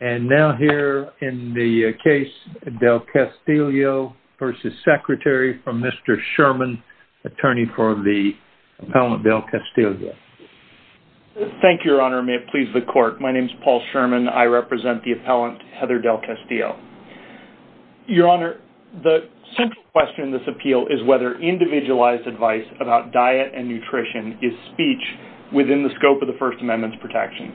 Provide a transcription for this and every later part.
And now here in the case Del Castillo v. Secretary from Mr. Sherman, attorney for the appellant Del Castillo. Thank you, Your Honor. May it please the Court. My name is Paul Sherman. I represent the appellant, Heather Del Castillo. Your Honor, the central question in this appeal is whether individualized advice about diet and nutrition is speech within the scope of the First Amendment's protection.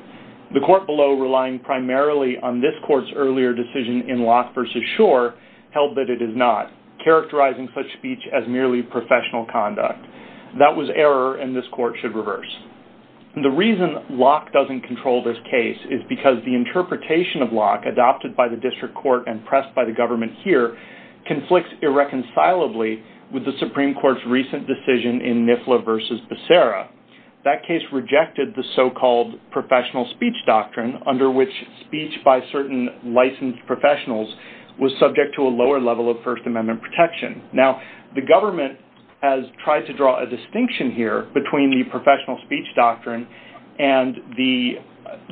The Court below, relying primarily on this Court's earlier decision in Locke v. Schor, held that it is not, characterizing such speech as merely professional conduct. That was error, and this Court should reverse. The reason Locke doesn't control this case is because the interpretation of Locke, adopted by the District Court and pressed by the government here, conflicts irreconcilably with the Supreme Court's recent decision in Nifla v. Becerra. That case rejected the so-called professional speech doctrine, under which speech by certain licensed professionals was subject to a lower level of First Amendment protection. Now the government has tried to draw a distinction here between the professional speech doctrine and the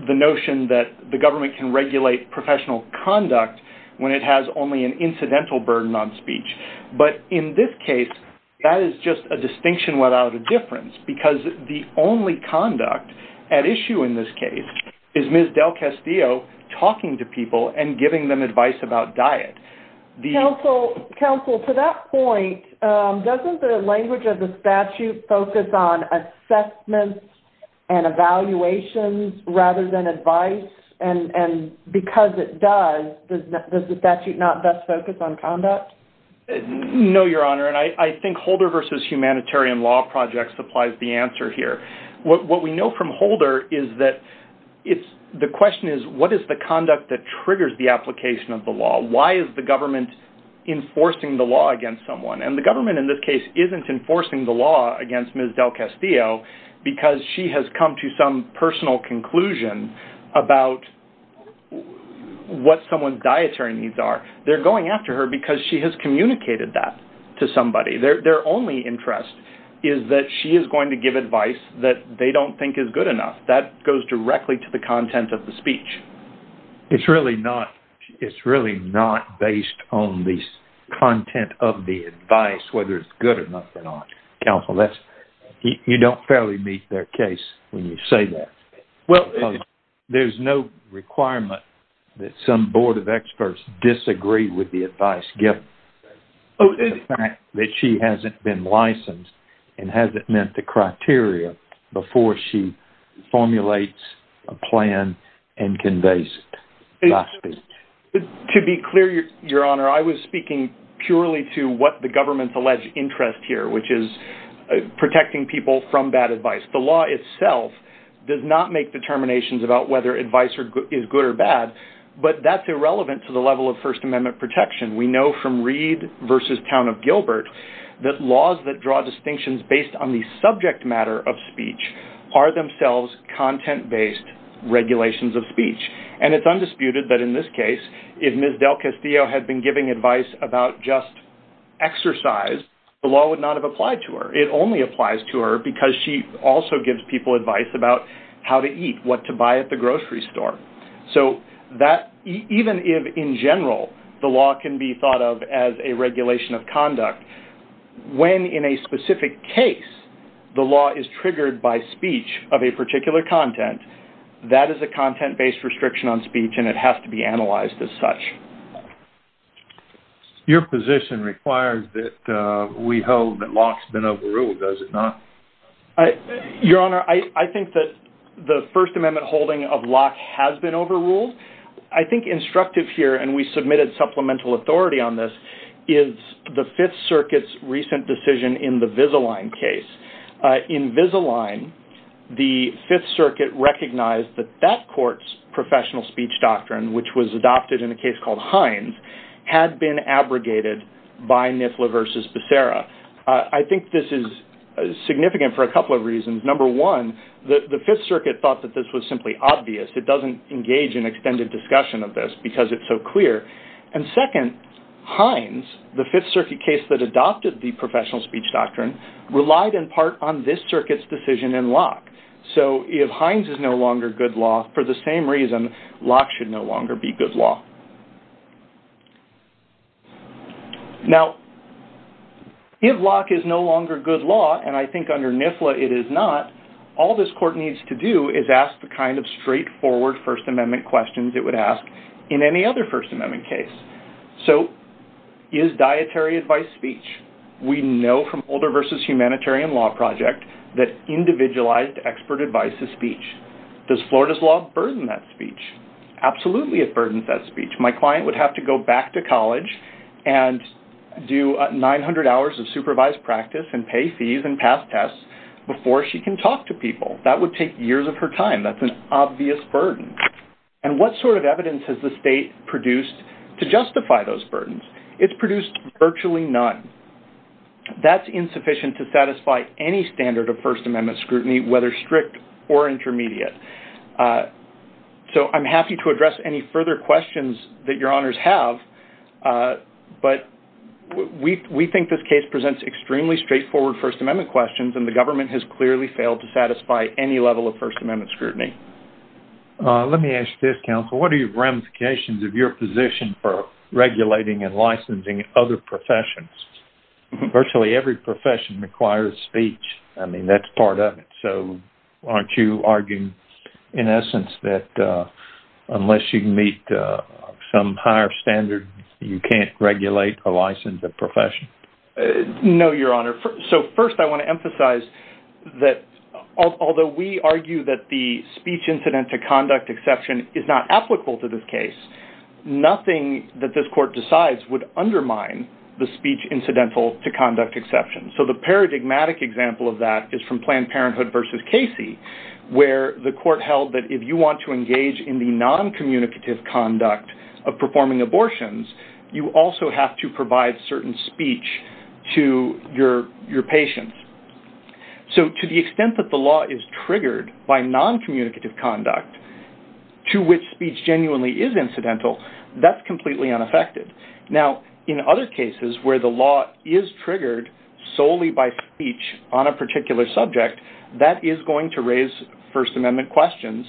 notion that the government can regulate professional conduct when it has only an incidental burden on speech. But in this case, that is just a distinction without a difference, because the only conduct at issue in this case is Ms. Del Castillo talking to people and giving them advice about diet. Counsel, to that point, doesn't the language of the statute focus on assessments and evaluations rather than advice, and because it does, does the statute not best focus on conduct? No, Your Honor, and I think Holder v. Humanitarian Law Project supplies the answer here. What we know from Holder is that the question is, what is the conduct that triggers the application of the law? Why is the government enforcing the law against someone? And the government in this case isn't enforcing the law against Ms. Del Castillo because she has come to some personal conclusion about what someone's dietary needs are. They're going after her because she has communicated that to somebody. Their only interest is that she is going to give advice that they don't think is good enough. That goes directly to the content of the speech. It's really not based on the content of the advice, whether it's good or not. Counsel, you don't fairly meet their case when you say that. Well, there's no requirement that some board of experts disagree with the advice given to the fact that she hasn't been licensed and hasn't met the criteria before she formulates a plan and conveys that speech. To be clear, Your Honor, I was speaking purely to what the government's alleged interest here, which is protecting people from bad advice. The law itself does not make determinations about whether advice is good or bad. But that's irrelevant to the level of First Amendment protection. We know from Reed v. Town of Gilbert that laws that draw distinctions based on the subject matter of speech are themselves content-based regulations of speech. And it's undisputed that in this case, if Ms. Del Castillo had been giving advice about just exercise, the law would not have applied to her. It only applies to her because she also gives people advice about how to eat, what to buy at the grocery store. So even if, in general, the law can be thought of as a regulation of conduct, when in a specific case the law is triggered by speech of a particular content, that is a content-based restriction on speech and it has to be analyzed as such. Your position requires that we hold that Locke's been overruled, does it not? Your Honor, I think that the First Amendment holding of Locke has been overruled. I think instructive here, and we submitted supplemental authority on this, is the Fifth Circuit's recent decision in the Vizalign case. In Vizalign, the Fifth Circuit recognized that that court's professional speech doctrine, which was adopted in a case called Hines, had been abrogated by Nifla v. Becerra. I think this is significant for a couple of reasons. Number one, the Fifth Circuit thought that this was simply obvious. It doesn't engage in extended discussion of this because it's so clear. And second, Hines, the Fifth Circuit case that adopted the professional speech doctrine, relied in part on this circuit's decision in Locke. So, if Hines is no longer good law, for the same reason Locke should no longer be good law. Now, if Locke is no longer good law, and I think under Nifla it is not, all this court needs to do is ask the kind of straightforward First Amendment questions it would ask in any other First Amendment case. So, is dietary advice speech? We know from Holder v. Humanitarian Law Project that individualized expert advice is speech. Does Florida's law burden that speech? Absolutely, it burdens that speech. My client would have to go back to college and do 900 hours of supervised practice and pay fees and pass tests before she can talk to people. That would take years of her time. That's an obvious burden. And what sort of evidence has the state produced to justify those burdens? It's produced virtually none. That's insufficient to satisfy any standard of First Amendment scrutiny, whether strict or intermediate. So, I'm happy to address any further questions that your honors have, but we think this case presents extremely straightforward First Amendment questions and the government has clearly failed to satisfy any level of First Amendment scrutiny. Let me ask this, counsel. What are your ramifications of your position for regulating and licensing other professions? Virtually every profession requires speech. I mean, that's part of it. So, aren't you arguing, in essence, that unless you meet some higher standard, you can't regulate a licensed profession? No, your honor. So first, I want to emphasize that although we argue that the speech incident to conduct exception is not applicable to this case, nothing that this court decides would undermine the speech incidental to conduct exception. So the paradigmatic example of that is from Planned Parenthood versus Casey, where the court held that if you want to engage in the noncommunicative conduct of performing abortions, you also have to provide certain speech to your patients. So, to the extent that the law is triggered by noncommunicative conduct to which speech genuinely is incidental, that's completely unaffected. Now, in other cases where the law is triggered solely by speech on a particular subject, that is going to raise First Amendment questions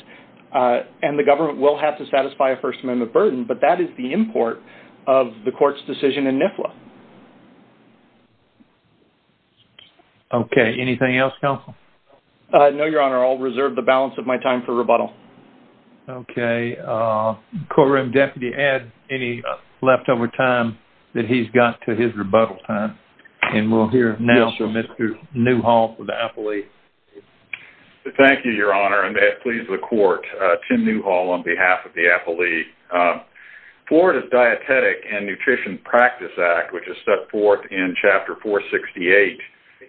and the government will have to satisfy a First Amendment burden, but that is the import of the court's decision in NIFLA. Okay. Anything else, counsel? No, your honor. I'll reserve the balance of my time for rebuttal. Okay. Courtroom deputy, add any leftover time that he's got to his rebuttal time, and we'll hear now from Mr. Newhall for the appellee. Thank you, your honor. And may it please the court, Tim Newhall on behalf of the appellee. Florida's Dietetic and Nutrition Practice Act, which is set forth in Chapter 468,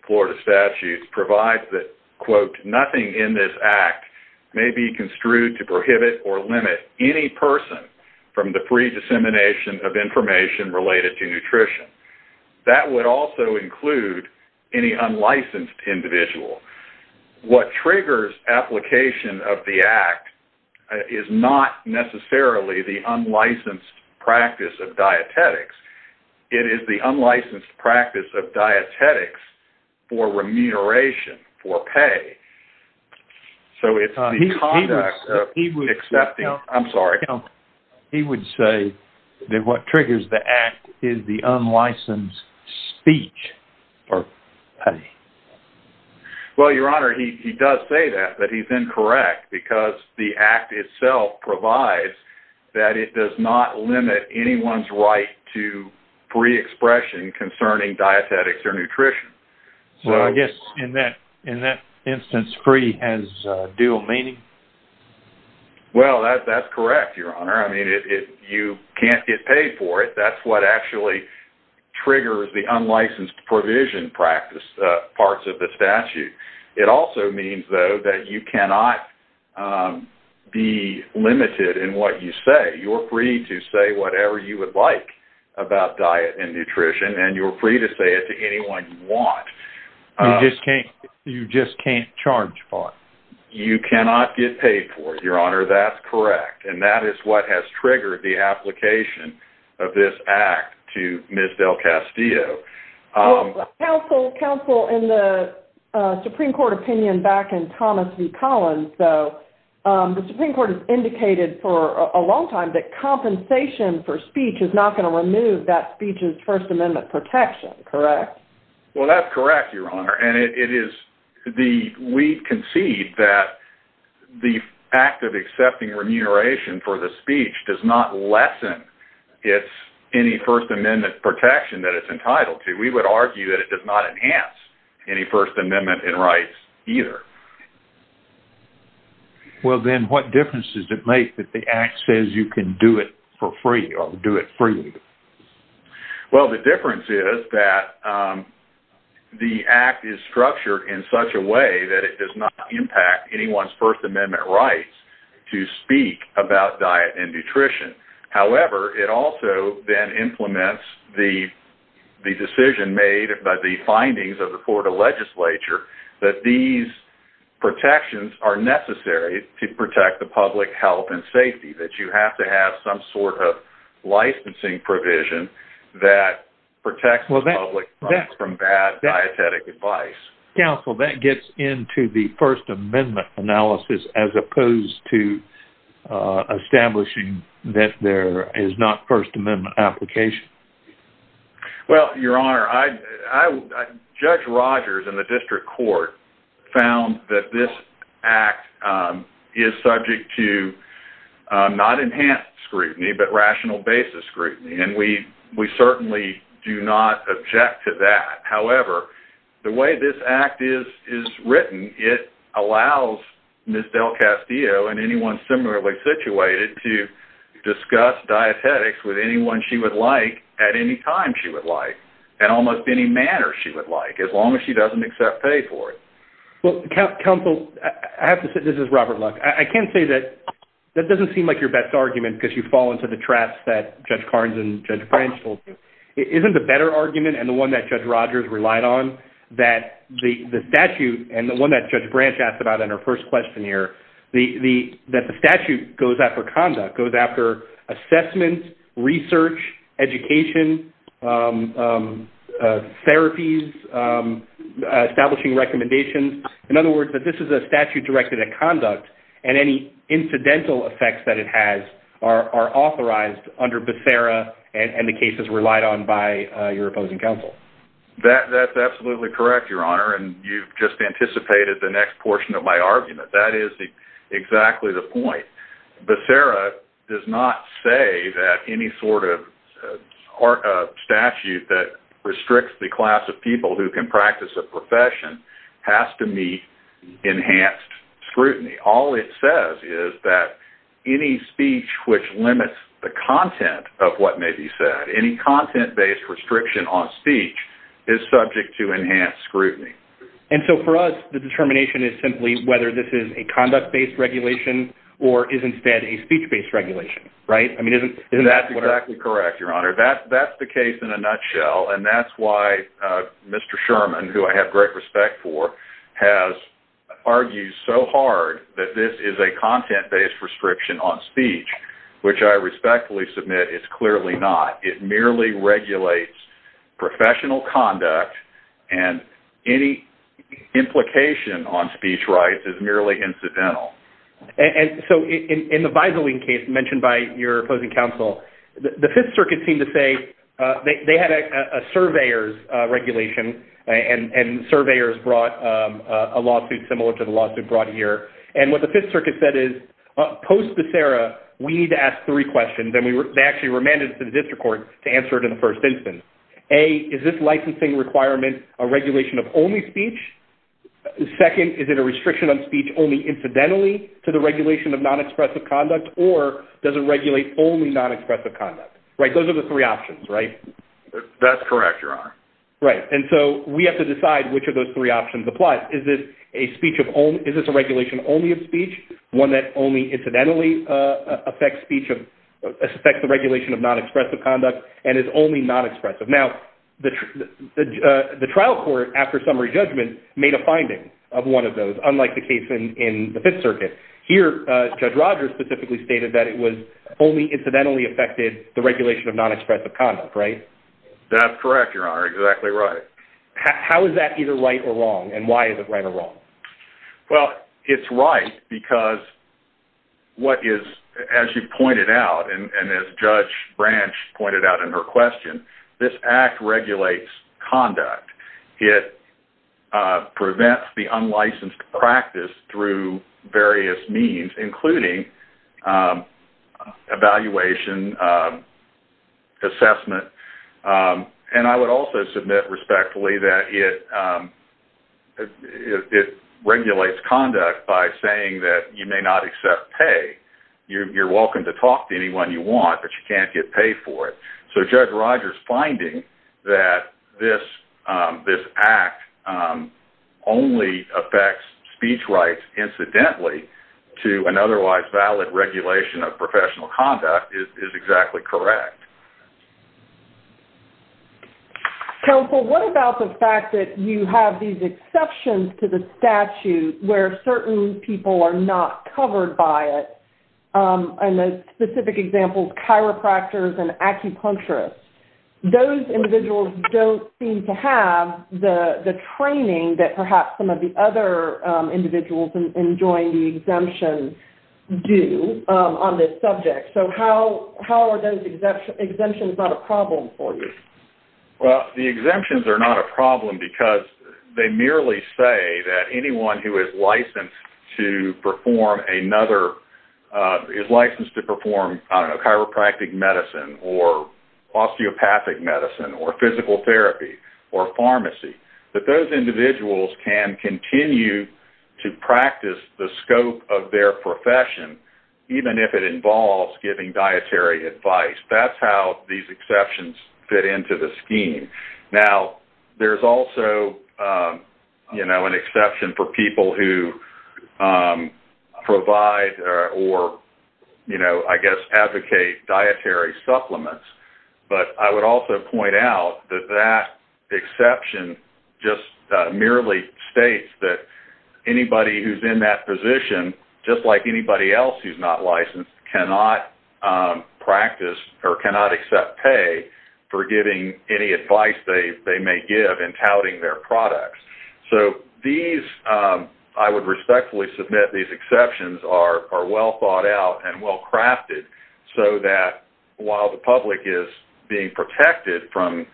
Florida Statute, provides that, quote, nothing in this act may be construed to prohibit or limit any person from the free dissemination of information related to nutrition. That would also include any unlicensed individual. What triggers application of the act is not necessarily the unlicensed practice of dietetics. It is the unlicensed practice of dietetics for remuneration, for pay. So it's the conduct of accepting... I'm sorry. He would say that what triggers the act is the unlicensed speech or pay. Well, your honor, he does say that, but he's incorrect because the act itself provides that it does not limit anyone's right to free expression concerning dietetics or nutrition. So I guess in that instance, free has dual meaning? Well, that's correct, your honor. I mean, you can't get paid for it. That's what actually triggers the unlicensed provision practice parts of the statute. It also means, though, that you cannot be limited in what you say. You're free to say whatever you would like about diet and nutrition, and you're free to say it to anyone you want. You just can't charge for it? You cannot get paid for it, your honor. That's correct. And that is what has triggered the application of this act to Ms. DelCastillo. Counsel, in the Supreme Court opinion back in Thomas v. Collins, though, the Supreme Court has indicated for a long time that compensation for speech is not going to remove that speech's First Amendment protection, correct? Well, that's correct, your honor. And we concede that the act of accepting remuneration for the speech does not lessen any First Amendment protection that it's entitled to. We would argue that it does not enhance any First Amendment rights either. Well, then what difference does it make that the act says you can do it for free or do it freely? Well, the difference is that the act is structured in such a way that it does not impact anyone's First Amendment rights to speak about diet and nutrition. However, it also then implements the decision made by the findings of the Florida legislature that these protections are necessary to protect the public health and safety, that you have to have some sort of licensing provision that protects the public from bad dietetic advice. Counsel, that gets into the First Amendment analysis as opposed to establishing that there is not First Amendment application. Well, your honor, Judge Rogers in the district court found that this act is subject to not enhanced scrutiny, but rational basis scrutiny. And we certainly do not object to that. However, the way this act is written, it allows Ms. Del Castillo and anyone similarly situated to discuss dietetics with anyone she would like at any time she would like, in almost any manner she would like, as long as she doesn't accept pay for it. Well, counsel, I have to say, this is Robert Luck. I can say that that doesn't seem like your best argument because you fall into the traps that Judge Carnes and Judge Branch told you. Isn't the better argument and the one that Judge Rogers relied on that the statute and the one that Judge Branch asked about in her first questionnaire, that the statute goes after conduct, goes after assessment, research, education, therapies, establishing recommendations. In other words, that this is a statute directed at conduct and any incidental effects that it has are authorized under Becerra and the cases relied on by your opposing counsel. That's absolutely correct, Your Honor. And you've just anticipated the next portion of my argument. That is exactly the point. Becerra does not say that any sort of statute that restricts the class of people who can practice a profession has to meet enhanced scrutiny. All it says is that any speech which limits the content of what may be said, any content-based restriction on speech is subject to enhanced scrutiny. And so for us, the determination is simply whether this is a conduct-based regulation or is instead a speech-based regulation, right? I mean, isn't that what... That's exactly correct, Your Honor. That's the case in a nutshell. And that's why Mr. Sherman, who I have great respect for, has argued so hard that this is a content-based restriction on speech, which I respectfully submit is clearly not. It merely regulates professional conduct and any implication on speech rights is merely incidental. And so in the Visaling case mentioned by your opposing counsel, the Fifth Circuit seemed to say they had a surveyor's regulation and surveyors brought a lawsuit similar to the lawsuit brought here. And what the Fifth Circuit said is, post Becerra, we need to ask three questions. And they actually remanded it to the district court to answer it in the first instance. A, is this licensing requirement a regulation of only speech? Second, is it a restriction on speech only incidentally to the regulation of non-expressive conduct? Right, those are the three options, right? That's correct, Your Honor. Right. And so we have to decide which of those three options applies. Is this a speech of only... Is this a regulation only of speech? One that only incidentally affects speech of... Affects the regulation of non-expressive conduct and is only non-expressive. Now, the trial court, after summary judgment, made a finding of one of those, unlike the case in the Fifth Circuit. Here, Judge Rogers specifically stated that it was only incidentally affected the regulation of non-expressive conduct, right? That's correct, Your Honor. Exactly right. How is that either right or wrong? And why is it right or wrong? Well, it's right because what is... As you pointed out, and as Judge Branch pointed out in her question, this act regulates conduct. It prevents the unlicensed practice through various means, including evaluation, assessment. And I would also submit respectfully that it regulates conduct by saying that you may not accept pay. You're welcome to talk to anyone you want, but you can't get paid for it. So Judge Rogers' finding that this act only affects speech rights incidentally to an otherwise valid regulation of professional conduct is exactly correct. Counsel, what about the fact that you have these exceptions to the statute where certain people are not covered by it? In a specific example, chiropractors and acupuncturists. Those individuals don't seem to have the training that perhaps some of the other individuals enjoying the exemption do on this subject. So how are those exemptions not a problem for you? Well, the exemptions are not a problem because they merely say that anyone who is licensed to perform another... is licensed to perform, I don't know, chiropractic medicine or osteopathic medicine or physical therapy or pharmacy, that those individuals can continue to practice the scope of their profession, even if it involves giving dietary advice. Now, there's also an exception for people who provide or, I guess, advocate dietary supplements. But I would also point out that that exception just merely states that anybody who's in that position, just like anybody else who's not licensed, cannot practice or cannot accept pay for giving any advice they may give in touting their products. So these, I would respectfully submit these exceptions are well thought out and well crafted so that while the public is being protected from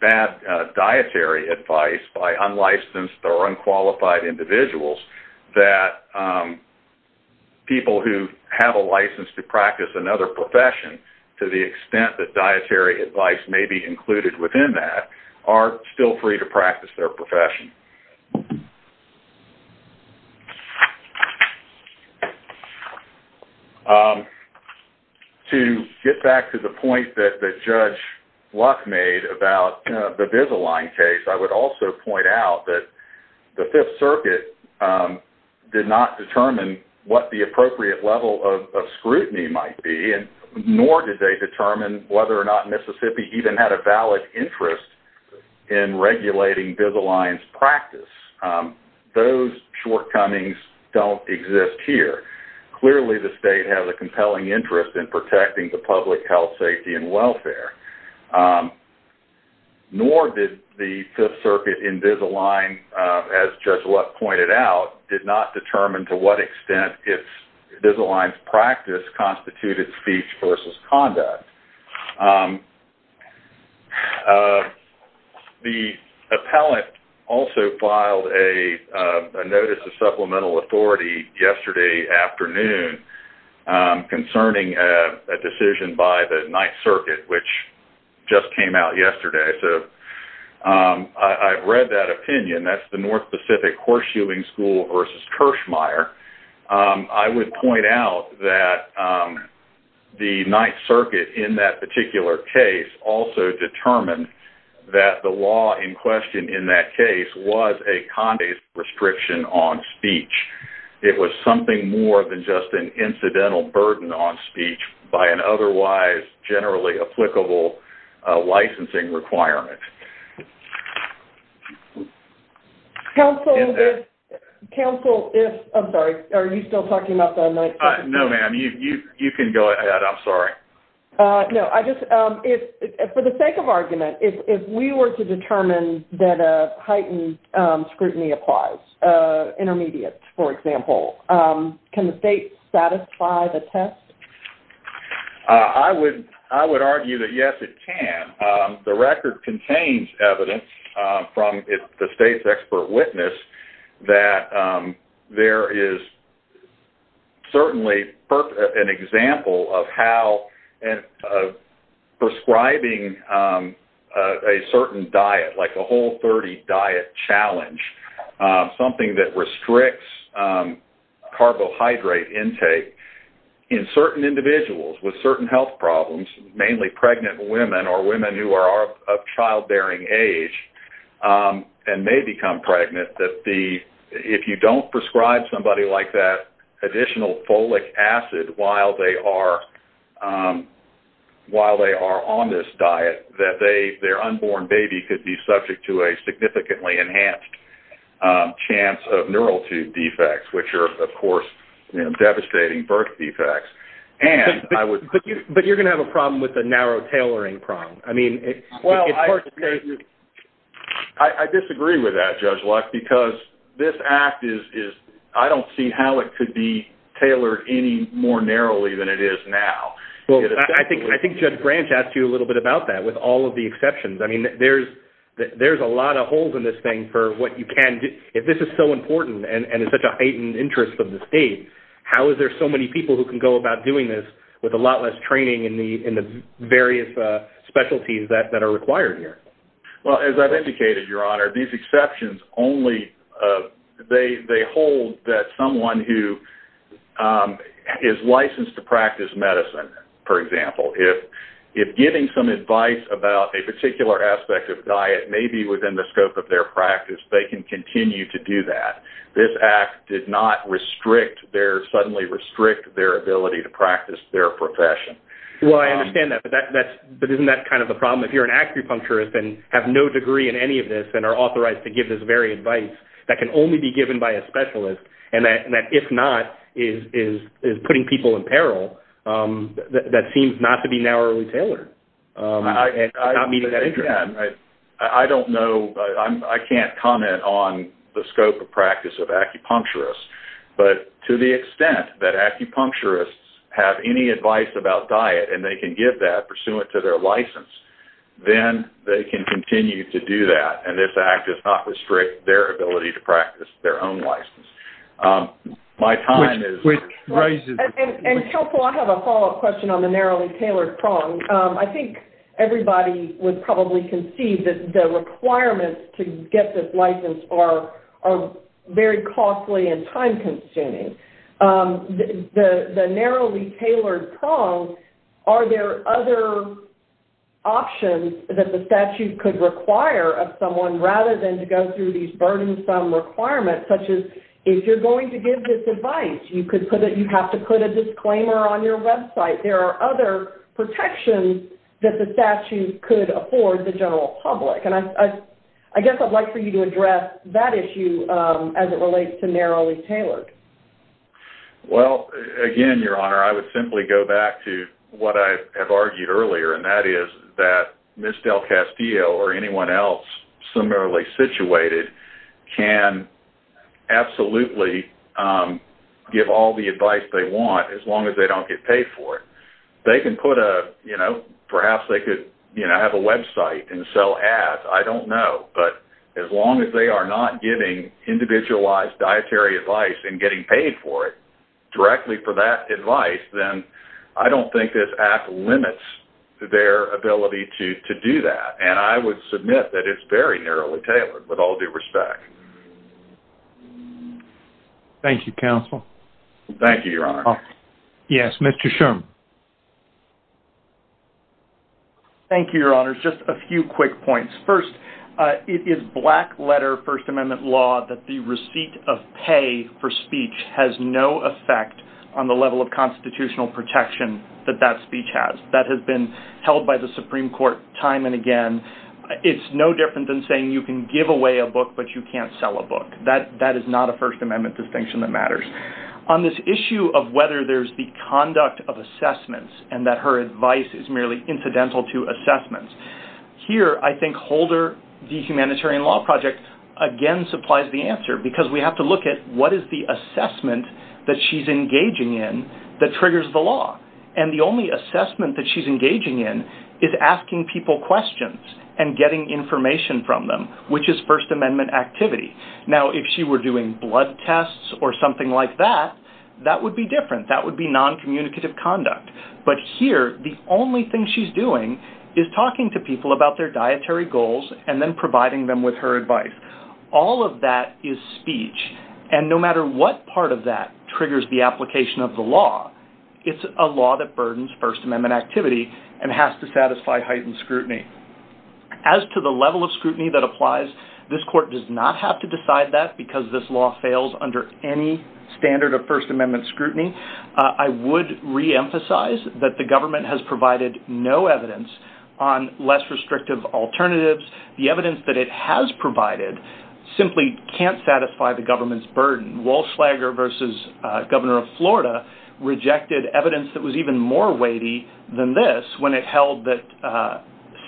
bad dietary advice by unlicensed or unqualified individuals, that people who have a license to practice another profession, to the extent that dietary advice may be included within that, are still free to practice their profession. To get back to the point that Judge Luck made about the Bevisalign case, I would also point out that the Fifth Circuit did not determine what the appropriate level of scrutiny might be, nor did they determine whether or not Mississippi even had a valid interest in regulating Bevisalign's practice. Those shortcomings don't exist here. Clearly, the state has a compelling interest in protecting the public health, safety, and welfare. Nor did the Fifth Circuit in Bevisalign, as Judge Luck pointed out, did not determine to what extent Bevisalign's practice constituted speech versus conduct. The appellate also filed a notice of supplemental authority yesterday afternoon concerning a decision by the Ninth Circuit, which just came out yesterday. So, I've read that opinion. That's the North Pacific Horseshoeing School versus Kirschmeier. I would point out that the Ninth Circuit, in that particular case, also determined that the law in question in that case was a condescension restriction on speech. It was something more than just an incidental burden on speech by an otherwise generally applicable licensing requirement. Counsel, if—I'm sorry. Are you still talking about the Ninth Circuit? No, ma'am. You can go ahead. I'm sorry. No, I just—for the sake of argument, if we were to determine that a heightened scrutiny applies—intermediate, for example—can the state satisfy the test? I would argue that, yes, it can. The record contains evidence from the state's expert witness that there is certainly an example of how prescribing a certain diet, like a Whole30 diet challenge, something that with certain health problems, mainly pregnant women or women who are of childbearing age and may become pregnant, that if you don't prescribe somebody like that additional folic acid while they are on this diet, that their unborn baby could be subject to a significantly enhanced chance of neural tube defects, which are, of course, devastating birth defects. But you're going to have a problem with the narrow tailoring prong. Well, I disagree with that, Judge Locke, because this act is—I don't see how it could be tailored any more narrowly than it is now. Well, I think Judge Branch asked you a little bit about that, with all of the exceptions. I mean, there's a lot of holes in this thing for what you can do. If this is so important and in such a heightened interest of the state, how is there so many people who can go about doing this with a lot less training in the various specialties that are required here? Well, as I've indicated, Your Honor, these exceptions only—they hold that someone who is licensed to practice medicine, for example, if giving some advice about a particular aspect of diet may be within the scope of their practice, they can continue to do that. This act did not suddenly restrict their ability to practice their profession. Well, I understand that. But isn't that kind of the problem? If you're an acupuncturist and have no degree in any of this and are authorized to give this very advice that can only be given by a specialist, and that, if not, is putting people in peril, that seems not to be narrowly tailored. I'm not meeting that interest. Again, I don't know—I can't comment on the scope of practice of acupuncturists, but to the extent that acupuncturists have any advice about diet and they can give that pursuant to their license, then they can continue to do that, and this act does not restrict their ability to practice their own license. My time is— Which raises— And Kelpo, I have a follow-up question on the narrowly tailored prong. I think everybody would probably conceive that the requirements to get this license are very costly and time-consuming. The narrowly tailored prong, are there other options that the statute could require of someone rather than to go through these burdensome requirements, such as, if you're going to give this advice, you have to put a disclaimer on your website. There are other protections that the statute could afford the general public, and I guess I'd like for you to address that issue as it relates to narrowly tailored. Well, again, Your Honor, I would simply go back to what I have argued earlier, and that is that Ms. DelCastillo or anyone else similarly situated can absolutely give all the advice they want as long as they don't get paid for it. They can put a—perhaps they could have a website and sell ads. I don't know, but as long as they are not giving individualized dietary advice and getting paid for it directly for that advice, then I don't think this act limits their ability to do that, and I would submit that it's very narrowly tailored, with all due respect. Thank you, counsel. Thank you, Your Honor. Yes, Mr. Sherman. Thank you, Your Honor. Just a few quick points. First, it is black-letter First Amendment law that the receipt of pay for speech has no effect on the level of constitutional protection that that speech has. That has been held by the Supreme Court time and again. It's no different than saying you can give away a book, but you can't sell a book. That is not a First Amendment distinction that matters. On this issue of whether there's the conduct of assessments and that her advice is merely incidental to assessments, here I think Holder v. Humanitarian Law Project again supplies the answer, because we have to look at what is the assessment that she's engaging in that triggers the law. And the only assessment that she's engaging in is asking people questions and getting information from them, which is First Amendment activity. Now, if she were doing blood tests or something like that, that would be different. That would be noncommunicative conduct. But here, the only thing she's doing is talking to people about their dietary goals and then providing them with her advice. All of that is speech. And no matter what part of that triggers the application of the law, it's a law that burdens First Amendment activity and has to satisfy heightened scrutiny. As to the level of scrutiny that applies, this court does not have to decide that because this law fails under any standard of First Amendment scrutiny. I would reemphasize that the government has provided no evidence on less restrictive alternatives. The evidence that it has provided simply can't satisfy the government's burden. Walsh-Schlager v. Governor of Florida rejected evidence that was even more weighty than this when it held that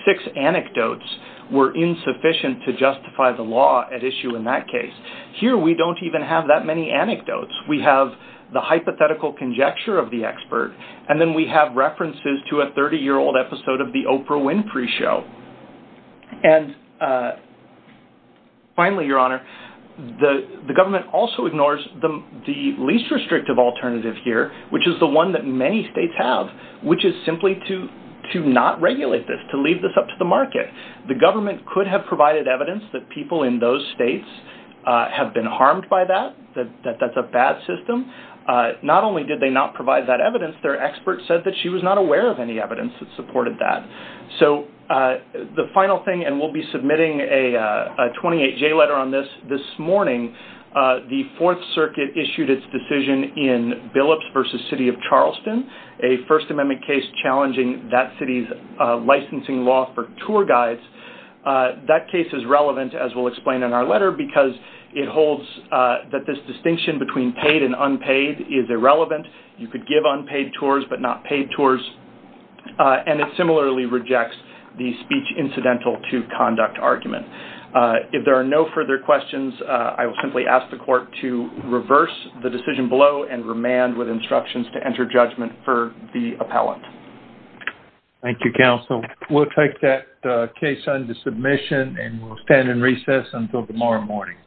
six anecdotes were insufficient to justify the law at issue in that case. Here, we don't even have that many anecdotes. We have the hypothetical conjecture of the expert. And then we have references to a 30-year-old episode of the Oprah Winfrey show. And finally, Your Honor, the government also ignores the least restrictive alternative here, which is the one that many states have, which is simply to not regulate this, to leave this up to the market. The government could have provided evidence that people in those states have been harmed by that, that that's a bad system. Not only did they not provide that evidence, their expert said that she was not aware of any evidence that supported that. So the final thing, and we'll be submitting a 28-J letter on this this morning, the Fourth Circuit issued its decision in Billups v. City of Charleston, a First Amendment case challenging that city's licensing law for tour guides. That case is relevant, as we'll explain in our letter, because it holds that this distinction between paid and unpaid is irrelevant. You could give unpaid tours but not paid tours. And it similarly rejects the speech incidental to conduct argument. If there are no further questions, I will simply ask the court to reverse the decision below and remand with instructions to enter judgment for the appellant. Thank you, counsel. We'll take that case under submission and we'll stand in recess until tomorrow morning.